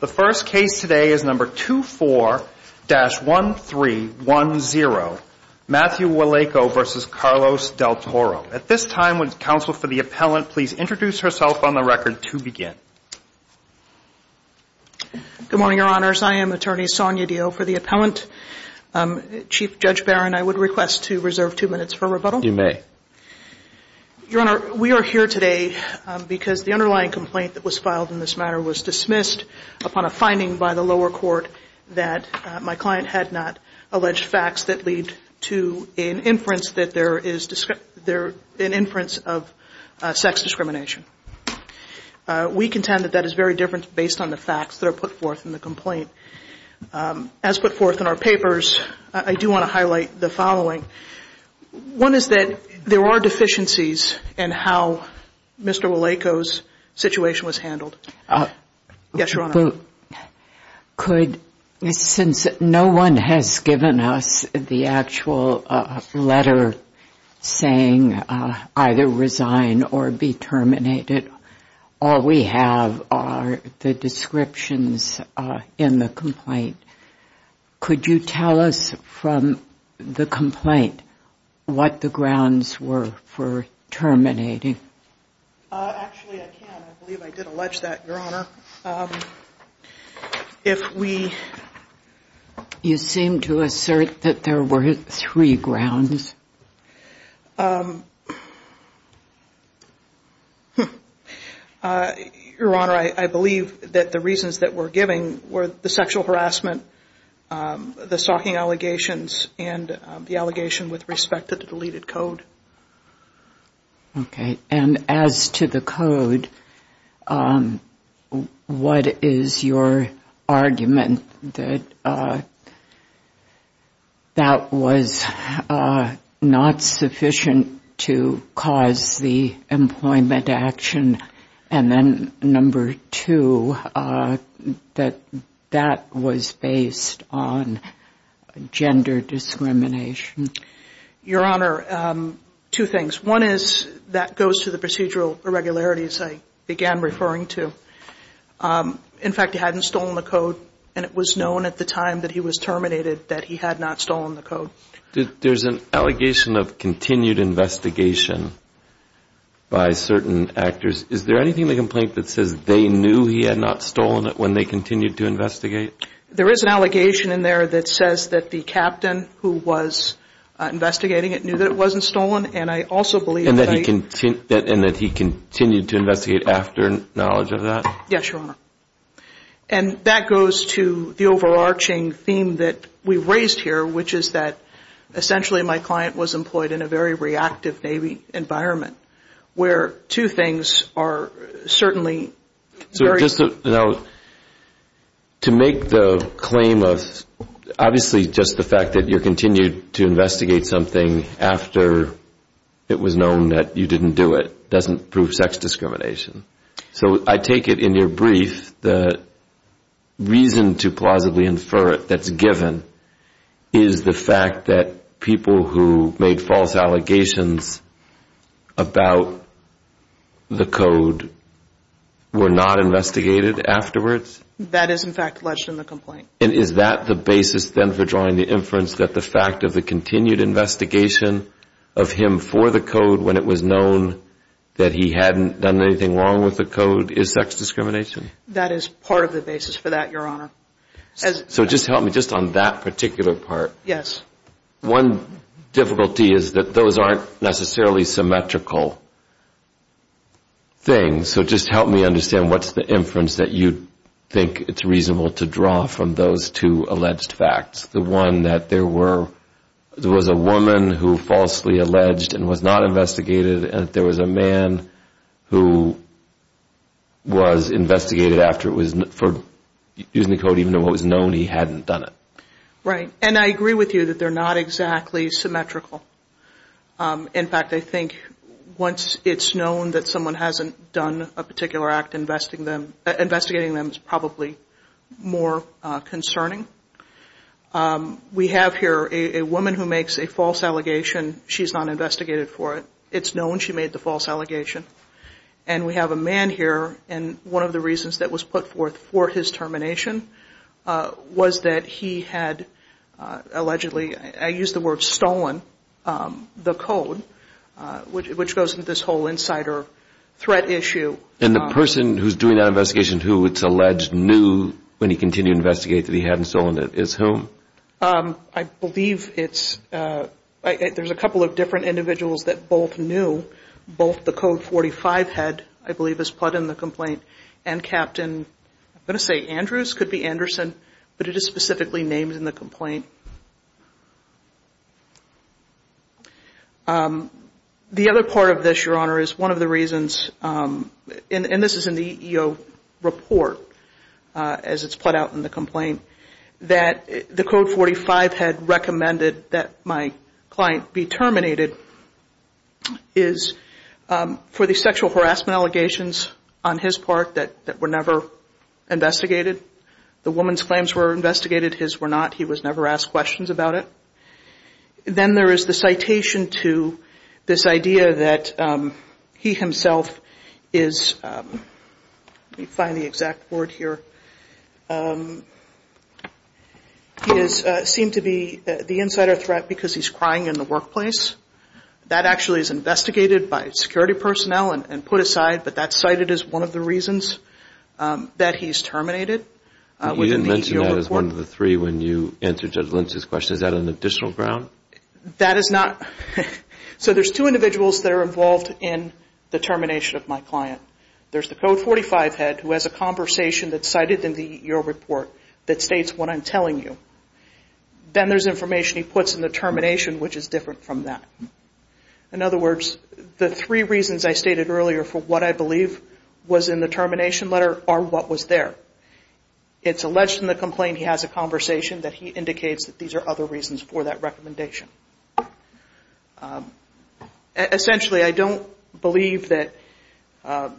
The first case today is number 24-1310, Matthew Waleyko v. Carlos Del Toro. At this time, would counsel for the appellant please introduce herself on the record to begin. Good morning, your honors. I am attorney Sonia Dio for the appellant. Chief Judge Barron, I would request to reserve two minutes for rebuttal. You may. Your honor, we are here today because the underlying complaint that was filed in this matter was dismissed upon a finding by the lower court that my client had not alleged facts that lead to an inference that there is an inference of sex discrimination. We contend that that is very different based on the facts that are put forth in the complaint. As put forth in our papers, I do want to highlight the following. One is that there are deficiencies in how Mr. Waleyko's situation was handled. Yes, your honor. Since no one has given us the actual letter saying either resign or be terminated, all we have are the descriptions in the complaint. Could you tell us from the complaint what the grounds were for terminating? Actually, I can. I believe I did allege that, your honor. You seem to assert that there were three grounds. Your honor, I believe that the reasons that we're giving were the sexual harassment, the stalking allegations, and the allegation with respect to the deleted code. Okay. As to the code, what is your argument that that was not sufficient to cause the employment action, and then number two, that that was based on gender discrimination? Your honor, two things. One is that goes to the procedural irregularities I began referring to. In fact, he hadn't stolen the code, and it was known at the time that he was terminated that he had not stolen the code. There's an allegation of continued investigation by certain actors. Is there anything in the complaint that says they knew he had not stolen it when they continued to investigate? There is an allegation in there that says that the captain who was investigating it wasn't stolen, and I also believe that I... And that he continued to investigate after knowledge of that? Yes, your honor. And that goes to the overarching theme that we raised here, which is that essentially my client was employed in a very reactive Navy environment, where two things are certainly... So just to make the claim of... Obviously, just the fact that you continued to investigate something after it was known that you didn't do it doesn't prove sex discrimination. So I take it in your brief, the reason to plausibly infer it that's given is the fact that people who made false allegations about the code were not investigated afterwards? That is, in fact, alleged in the complaint. And is that the basis, then, for drawing the inference that the fact of the continued investigation of him for the code when it was known that he hadn't done anything wrong with the code is sex discrimination? That is part of the basis for that, your honor. So just help me just on that particular part. Yes. One difficulty is that those aren't necessarily symmetrical things. So just help me understand what's the inference that you think it's reasonable to draw from those two alleged facts? The one that there was a woman who falsely alleged and was not investigated, and there was a man who was investigated for using the code even though it was known he hadn't done it. Right. And I agree with you that they're not exactly symmetrical. In fact, I think once it's known that someone hasn't done a particular act, investigating them is probably more concerning. We have here a woman who makes a false allegation. She's not investigated for it. It's known she made the false allegation. And we have a man here, and one of the reasons that was put forth for his termination was that he had allegedly, I use the word stolen, the code, which goes into this whole insider threat issue. And the person who's doing that investigation who it's alleged knew when he continued to investigate that he hadn't stolen it is whom? I believe it's – there's a couple of different individuals that both knew. Both the code 45 head, I believe, is put in the complaint, and Captain, I'm going to say Andrews, could be Anderson, but it is specifically named in the complaint. The other part of this, Your Honor, is one of the reasons, and this is in the EEO report, as it's put out in the complaint, that the code 45 head recommended that my client be terminated is for the sexual harassment allegations on his part that were never investigated. The woman's claims were investigated. His were not. He was never asked to testify. He was never asked questions about it. Then there is the citation to this idea that he himself is – let me find the exact word here – he is seen to be the insider threat because he's crying in the workplace. That actually is investigated by security personnel and put aside, but that's cited as one of the reasons that he's terminated within the EEO report. So that is one of the three when you answer Judge Lynch's question. Is that an additional ground? That is not – so there's two individuals that are involved in the termination of my client. There's the code 45 head who has a conversation that's cited in the EEO report that states what I'm telling you. Then there's information he puts in the termination, which is different from that. In other words, the three reasons I stated earlier for what I believe was in the termination letter are what was there. It's alleged in the complaint he has a conversation that he indicates that these are other reasons for that recommendation. Essentially, I don't believe that a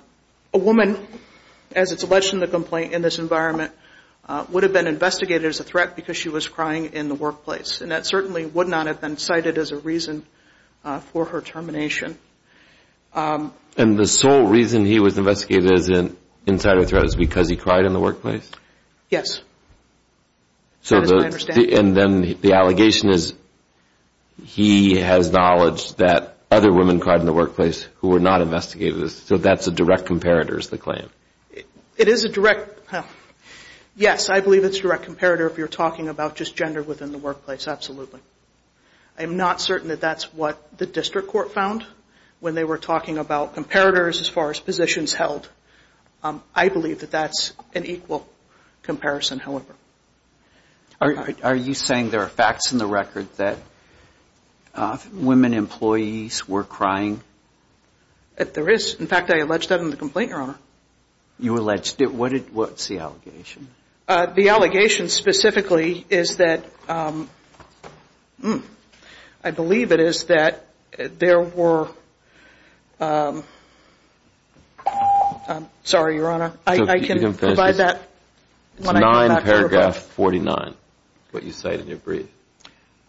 woman, as it's alleged in the complaint, in this environment would have been investigated as a threat because she was crying in the workplace, and that certainly would not have been cited as a reason for her termination. And the sole reason he was investigated as an insider threat is because he cried in the workplace? Yes. That is my understanding. And then the allegation is he has knowledge that other women cried in the workplace who were not investigated as – so that's a direct comparator is the claim? It is a direct – yes, I believe it's a direct comparator if you're talking about just gender within the workplace, absolutely. I'm not certain that that's what the district court found when they were talking about comparators as far as positions held. I believe that that's an equal comparison, however. Are you saying there are facts in the record that women employees were crying? There is. In fact, I alleged that in the complaint, Your Honor. You alleged it. What's the allegation? The allegation specifically is that – I believe it is that there were – I'm sorry, Your Honor. I can provide that. It's 9 paragraph 49, what you cite in your brief.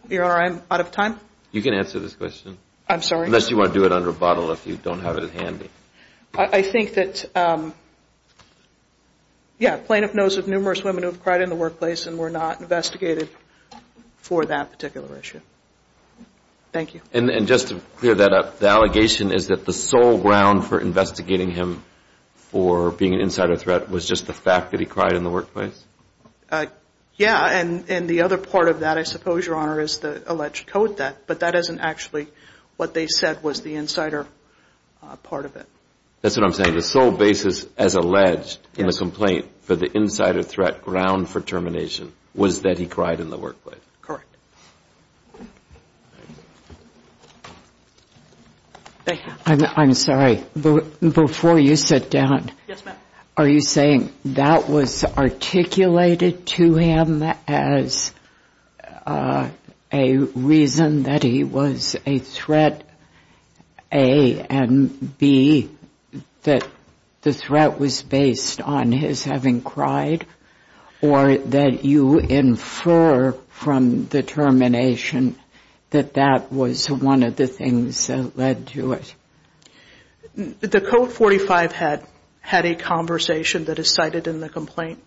Your Honor, I'm out of time. You can answer this question. I'm sorry. Unless you want to do it under a bottle if you don't have it handy. I think that, yeah, plaintiff knows of numerous women who have cried in the workplace and were not investigated for that particular issue. Thank you. And just to clear that up, the allegation is that the sole ground for investigating him for being an insider threat was just the fact that he cried in the workplace? Yeah, and the other part of that, I suppose, Your Honor, is the alleged code that – that's what I'm saying. The sole basis as alleged in this complaint for the insider threat ground for termination was that he cried in the workplace. Thank you. I'm sorry. Before you sit down, are you saying that was articulated to him as a reason that he was a threat A and B, that the threat was based on his having cried, or that you infer from the termination that that was one of the things that led to it? The Code 45 had a conversation that is cited in the complaint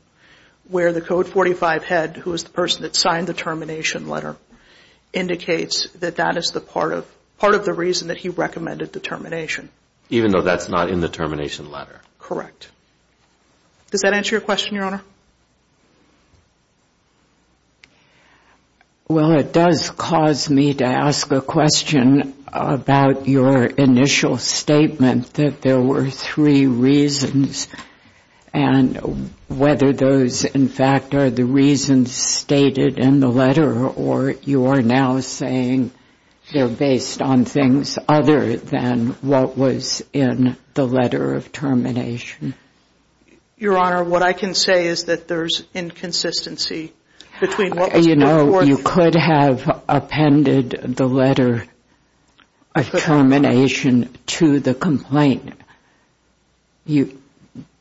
where the Code 45 head, who is the person that signed the termination letter, indicates that that is the part of – part of the reason that he recommended the termination. Even though that's not in the termination letter? Correct. Does that answer your question, Your Honor? Well, it does cause me to ask a question about your initial statement that there were three reasons, and whether those, in fact, are the reasons stated in the letter, or you are now saying they're based on things other than what was in the letter of termination. Your Honor, what I can say is that there's inconsistency between what was put forth – You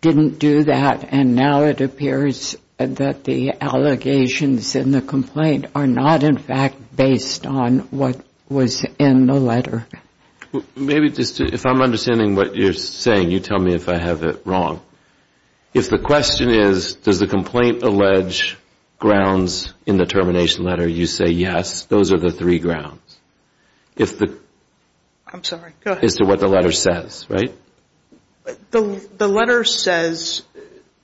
didn't do that, and now it appears that the allegations in the complaint are not, in fact, based on what was in the letter. Maybe just – if I'm understanding what you're saying, you tell me if I have it wrong. If the question is, does the complaint allege grounds in the termination letter, you say, yes, those are the three grounds. If the – I'm sorry, go ahead. As to what the letter says, right? The letter says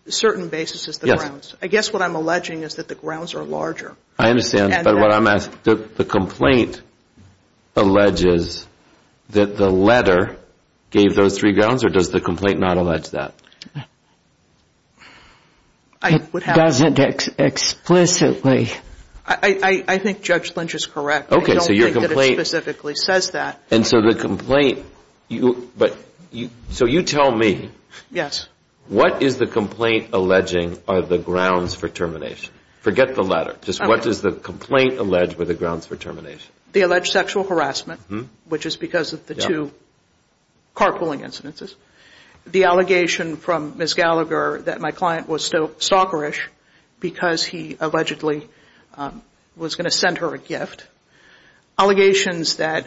certain basis is the grounds. Yes. I guess what I'm alleging is that the grounds are larger. I understand, but what I'm asking – the complaint alleges that the letter gave those three grounds, or does the complaint not allege that? It doesn't explicitly. I think Judge Lynch is correct. Okay, so your complaint – I don't think that it specifically says that. And so the complaint – so you tell me – Yes. What is the complaint alleging are the grounds for termination? Forget the letter. Just what does the complaint allege were the grounds for termination? The alleged sexual harassment, which is because of the two carpooling incidences. The allegation from Ms. Gallagher that my client was stalkerish because he allegedly was going to send her a gift. Allegations that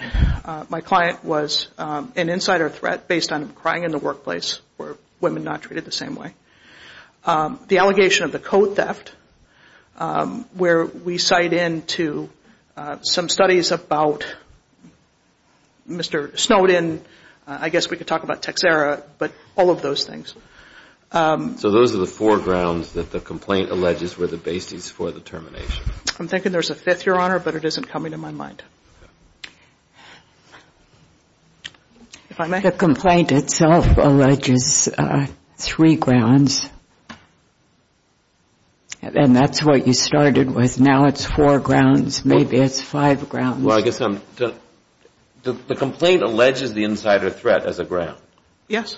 my client was an insider threat based on crying in the workplace where women are not treated the same way. The allegation of the coat theft, where we cite in to some studies about Mr. Snowden. I guess we could talk about Texera, but all of those things. So those are the four grounds that the complaint alleges were the basis for the termination. I'm thinking there's a fifth, Your Honor, but it isn't coming to my mind. If I may? The complaint itself alleges three grounds. And that's what you started with. Now it's four grounds. Maybe it's five grounds. Well, I guess I'm – The complaint alleges the insider threat as a ground. Yes.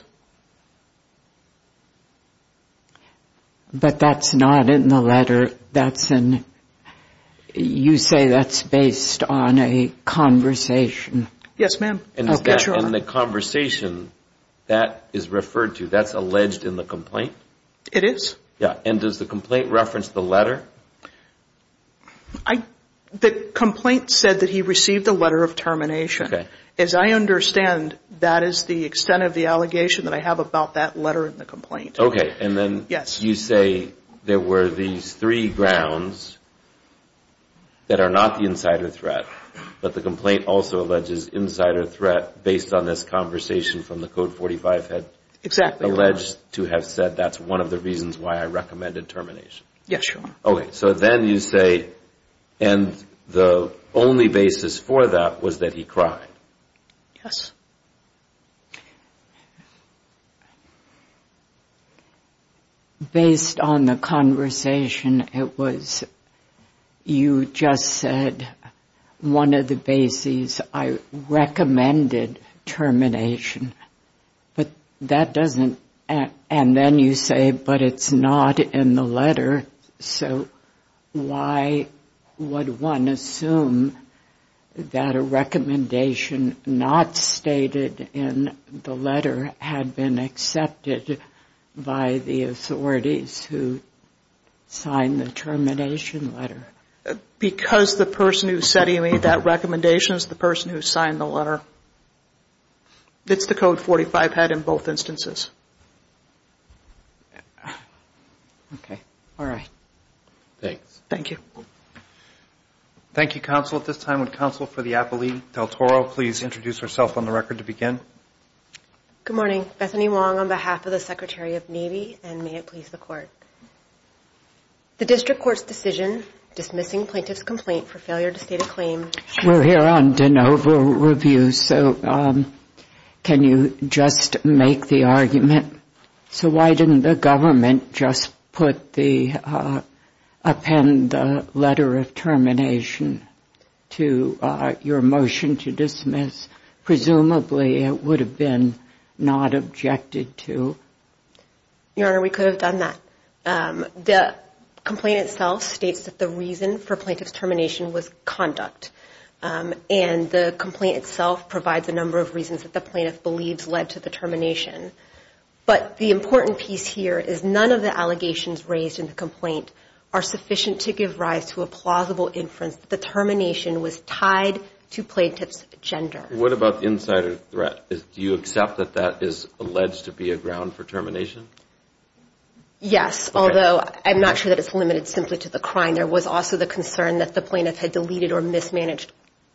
But that's not in the letter. That's in – you say that's based on a conversation. Yes, ma'am. And the conversation that is referred to, that's alleged in the complaint? It is. Yeah. And does the complaint reference the letter? The complaint said that he received a letter of termination. As I understand, that is the extent of the allegation that I have about that letter in the complaint. Okay. And then you say there were these three grounds that are not the insider threat, but the complaint also alleges insider threat based on this conversation from the Code 45 head. Exactly, Your Honor. Alleged to have said that's one of the reasons why I recommended termination. Yes, Your Honor. Okay. So then you say, and the only basis for that was that he cried. Yes. Based on the conversation, it was you just said one of the bases I recommended termination. But that doesn't – and then you say, but it's not in the letter. So why would one assume that a recommendation not stated in the letter had been accepted by the authorities who signed the termination letter? Because the person who said he made that recommendation is the person who signed the letter. It's the Code 45 head in both instances. Okay. All right. Thanks. Thank you. Thank you, counsel. At this time, would counsel for the appellee, Del Toro, please introduce herself on the record to begin? Good morning. Bethany Wong on behalf of the Secretary of Navy, and may it please the Court. The district court's decision dismissing plaintiff's complaint for failure to state a claim. We're here on de novo review, so can you just make the argument? So why didn't the government just put the – append the letter of termination to your motion to dismiss? Presumably it would have been not objected to. Your Honor, we could have done that. The complaint itself states that the reason for plaintiff's termination was conduct, and the complaint itself provides a number of reasons that the plaintiff believes led to the termination. But the important piece here is none of the allegations raised in the complaint are sufficient to give rise to a plausible inference that the termination was tied to plaintiff's gender. What about the insider threat? Do you accept that that is alleged to be a ground for termination? Yes, although I'm not sure that it's limited simply to the crime. There was also the concern that the plaintiff had deleted or mismanaged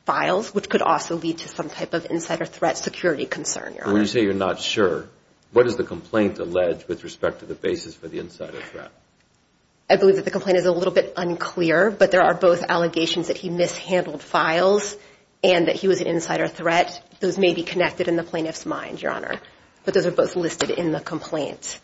files, which could also lead to some type of insider threat security concern, Your Honor. When you say you're not sure, what does the complaint allege with respect to the basis for the insider threat? I believe that the complaint is a little bit unclear, but there are both allegations that he mishandled files and that he was an insider threat. Those may be connected in the plaintiff's mind, Your Honor, but those are both listed in the complaint.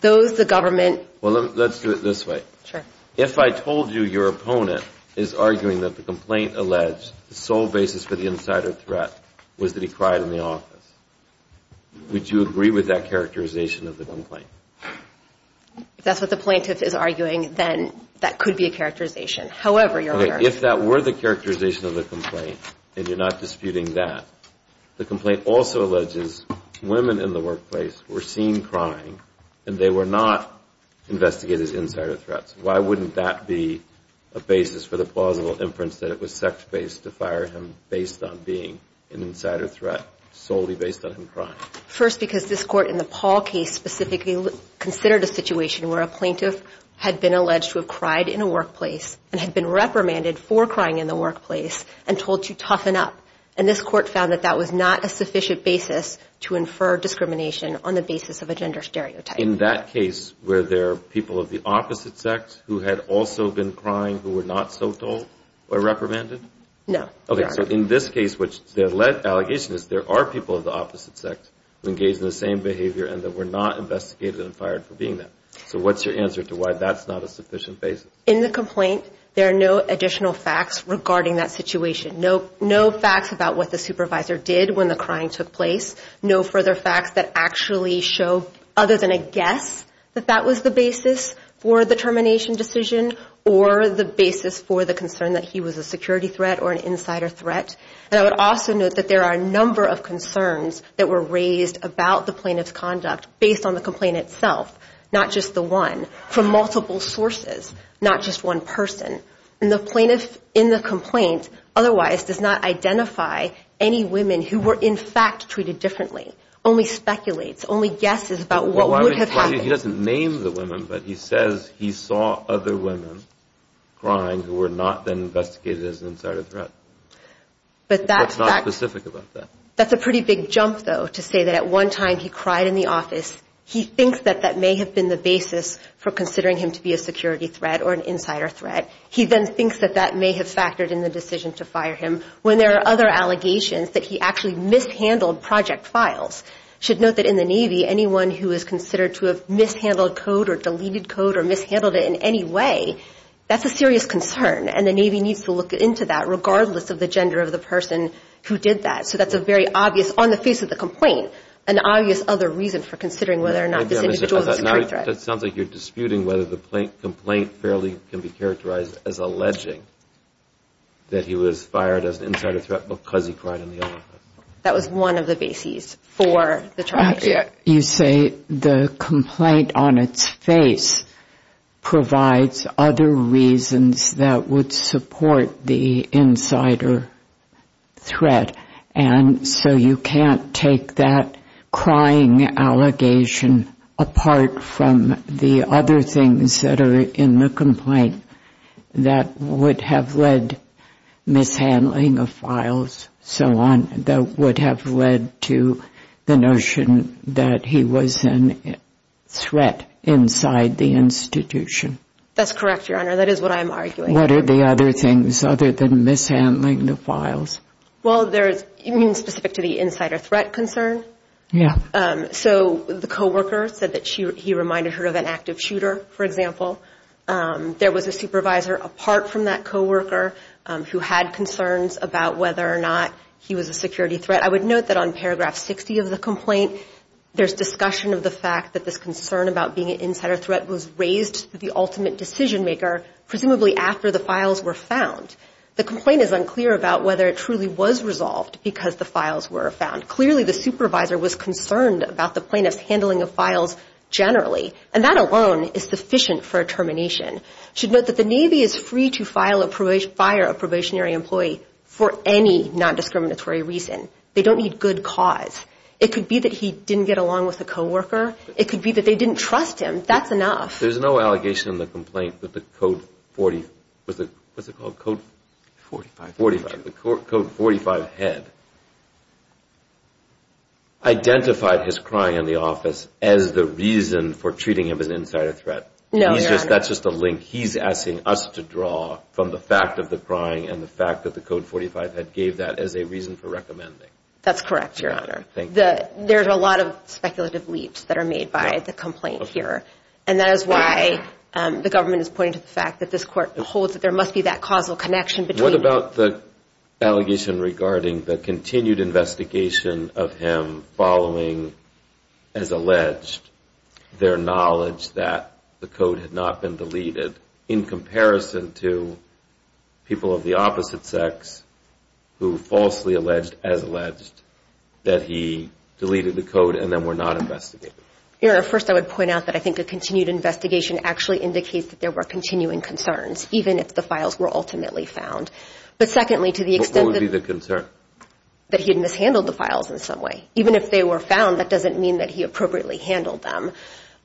Those, the government – Well, let's do it this way. Sure. If I told you your opponent is arguing that the complaint alleged the sole basis for the insider threat was that he cried in the office, would you agree with that characterization of the complaint? If that's what the plaintiff is arguing, then that could be a characterization. However, Your Honor – The complaint also alleges women in the workplace were seen crying and they were not investigated as insider threats. Why wouldn't that be a basis for the plausible inference that it was sex-based to fire him based on being an insider threat solely based on him crying? First, because this Court in the Paul case specifically considered a situation where a plaintiff had been alleged to have cried in a workplace and had been reprimanded for crying in the workplace and told to toughen up. And this Court found that that was not a sufficient basis to infer discrimination on the basis of a gender stereotype. In that case, were there people of the opposite sex who had also been crying who were not so told or reprimanded? No. Okay, so in this case, which the allegation is there are people of the opposite sex who engaged in the same behavior and that were not investigated and fired for being that. So what's your answer to why that's not a sufficient basis? In the complaint, there are no additional facts regarding that situation. No facts about what the supervisor did when the crying took place. No further facts that actually show, other than a guess, that that was the basis for the termination decision or the basis for the concern that he was a security threat or an insider threat. And I would also note that there are a number of concerns that were raised about the plaintiff's conduct based on the complaint itself, not just the one, from multiple sources, not just one person. And the plaintiff in the complaint otherwise does not identify any women who were in fact treated differently, only speculates, only guesses about what would have happened. He doesn't name the women, but he says he saw other women crying who were not then investigated as an insider threat. But that's not specific about that. That's a pretty big jump, though, to say that at one time he cried in the office. He thinks that that may have been the basis for considering him to be a security threat or an insider threat. He then thinks that that may have factored in the decision to fire him when there are other allegations that he actually mishandled project files. I should note that in the Navy, anyone who is considered to have mishandled code or deleted code or mishandled it in any way, that's a serious concern, and the Navy needs to look into that, regardless of the gender of the person who did that. So that's a very obvious, on the face of the complaint, an obvious other reason for considering whether or not this individual was a security threat. It sounds like you're disputing whether the complaint fairly can be characterized as alleging that he was fired as an insider threat because he cried in the office. That was one of the bases for the charge. You say the complaint on its face provides other reasons that would support the insider threat, and so you can't take that crying allegation apart from the other things that are in the complaint that would have led mishandling of files, so on, that would have led to the notion that he was a threat inside the institution. That's correct, Your Honor. That is what I'm arguing. What are the other things other than mishandling the files? Well, there's, you mean specific to the insider threat concern? Yeah. So the coworker said that he reminded her of an active shooter, for example. There was a supervisor apart from that coworker who had concerns about whether or not he was a security threat. I would note that on paragraph 60 of the complaint, there's discussion of the fact that this concern about being an insider threat was raised to the ultimate decision maker, presumably after the files were found. The complaint is unclear about whether it truly was resolved because the files were found. Clearly, the supervisor was concerned about the plaintiff's handling of files generally, and that alone is sufficient for a termination. You should note that the Navy is free to fire a probationary employee for any non-discriminatory reason. They don't need good cause. It could be that he didn't get along with the coworker. It could be that they didn't trust him. That's enough. There's no allegation in the complaint that the Code 45 head identified his crying in the office as the reason for treating him as an insider threat. No, Your Honor. That's just a link he's asking us to draw from the fact of the crying and the fact that the Code 45 head gave that as a reason for recommending. That's correct, Your Honor. There's a lot of speculative leaps that are made by the complaint here, and that is why the government is pointing to the fact that this court holds that there must be that causal connection between... What about the allegation regarding the continued investigation of him following, as alleged, their knowledge that the Code had not been deleted in comparison to people of the opposite sex who falsely alleged, as alleged, that he deleted the Code and then were not investigated? Your Honor, first I would point out that I think a continued investigation actually indicates that there were continuing concerns, even if the files were ultimately found. But secondly, to the extent that... What would be the concern? That he had mishandled the files in some way. Even if they were found, that doesn't mean that he appropriately handled them.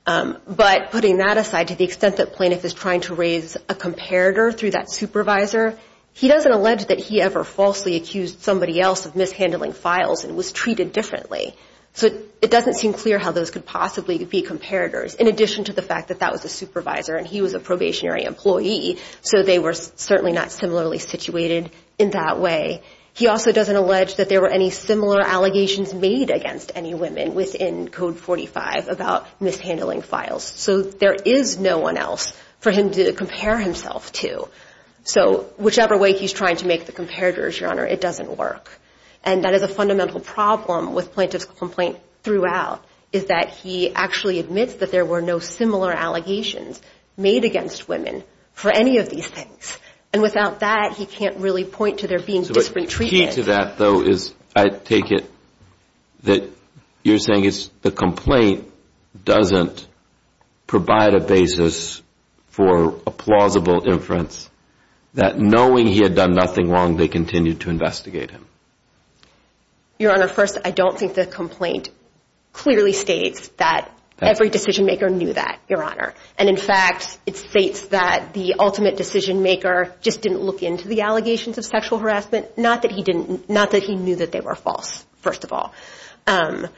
But putting that aside, to the extent that Plaintiff is trying to raise a comparator through that supervisor, he doesn't allege that he ever falsely accused somebody else of mishandling files and was treated differently. So it doesn't seem clear how those could possibly be comparators, in addition to the fact that that was a supervisor and he was a probationary employee, so they were certainly not similarly situated in that way. He also doesn't allege that there were any similar allegations made against any women within Code 45 about mishandling files. So there is no one else for him to compare himself to. So whichever way he's trying to make the comparators, Your Honor, it doesn't work. And that is a fundamental problem with Plaintiff's complaint throughout, is that he actually admits that there were no similar allegations made against women for any of these things. And without that, he can't really point to there being different treatments. The key to that, though, is I take it that you're saying the complaint doesn't provide a basis for a plausible inference that knowing he had done nothing wrong, they continued to investigate him. Your Honor, first, I don't think the complaint clearly states that every decision-maker knew that, Your Honor. And in fact, it states that the ultimate decision-maker just didn't look into the allegations of sexual harassment, not that he knew that they were false, first of all. And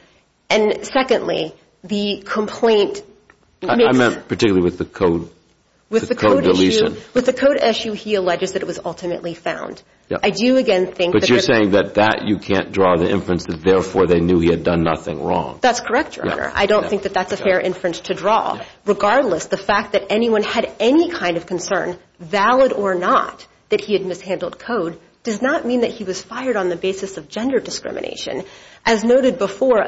secondly, the complaint makes... I meant particularly with the code deletion. With the code issue, he alleges that it was ultimately found. I do, again, think that... But you're saying that you can't draw the inference that, therefore, they knew he had done nothing wrong. That's correct, Your Honor. I don't think that that's a fair inference to draw. Regardless, the fact that anyone had any kind of concern, valid or not, that he had mishandled code, does not mean that he was fired on the basis of gender discrimination. As noted before,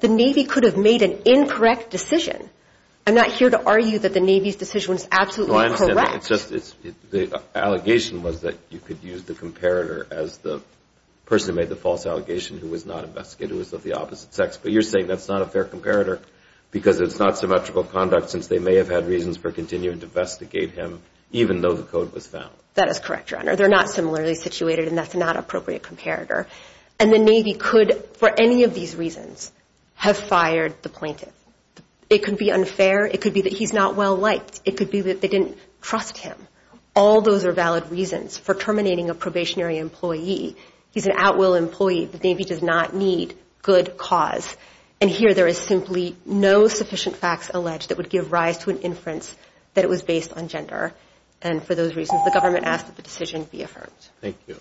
the Navy could have made an incorrect decision. I'm not here to argue that the Navy's decision was absolutely correct. The allegation was that you could use the comparator as the person who made the false allegation who was not investigated, who was of the opposite sex. But you're saying that's not a fair comparator because it's not symmetrical conduct since they may have had reasons for continuing to investigate him even though the code was found. That is correct, Your Honor. They're not similarly situated, and that's not an appropriate comparator. And the Navy could, for any of these reasons, have fired the plaintiff. It could be unfair. It could be that he's not well-liked. It could be that they didn't trust him. All those are valid reasons for terminating a probationary employee. He's an at-will employee. The Navy does not need good cause. And here there is simply no sufficient facts alleged that would give rise to an inference that it was based on gender. And for those reasons, the government asked that the decision be affirmed. Thank you.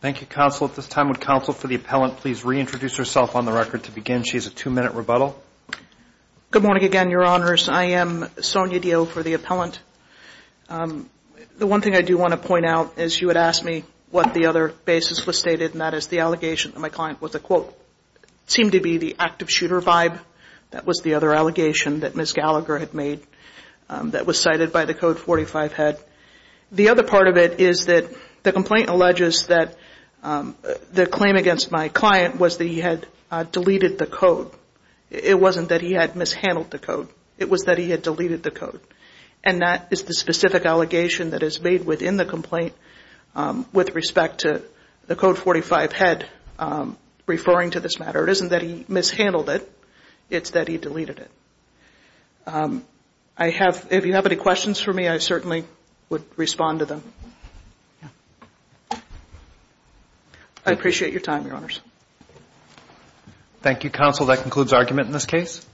Thank you, Counsel. At this time, would Counsel for the Appellant please reintroduce herself on the record to begin? She has a two-minute rebuttal. Good morning again, Your Honors. I am Sonia Dio for the Appellant. The one thing I do want to point out is you had asked me what the other basis was stated, and that is the allegation that my client was a, quote, seemed to be the active shooter vibe. That was the other allegation that Ms. Gallagher had made that was cited by the Code 45 head. The other part of it is that the complaint alleges that the claim against my client was that he had deleted the code. It wasn't that he had mishandled the code. It was that he had deleted the code. And that is the specific allegation that is made within the complaint with respect to the Code 45 head referring to this matter. It isn't that he mishandled it. It's that he deleted it. If you have any questions for me, I certainly would respond to them. I appreciate your time, Your Honors. Thank you, counsel. That concludes argument in this case.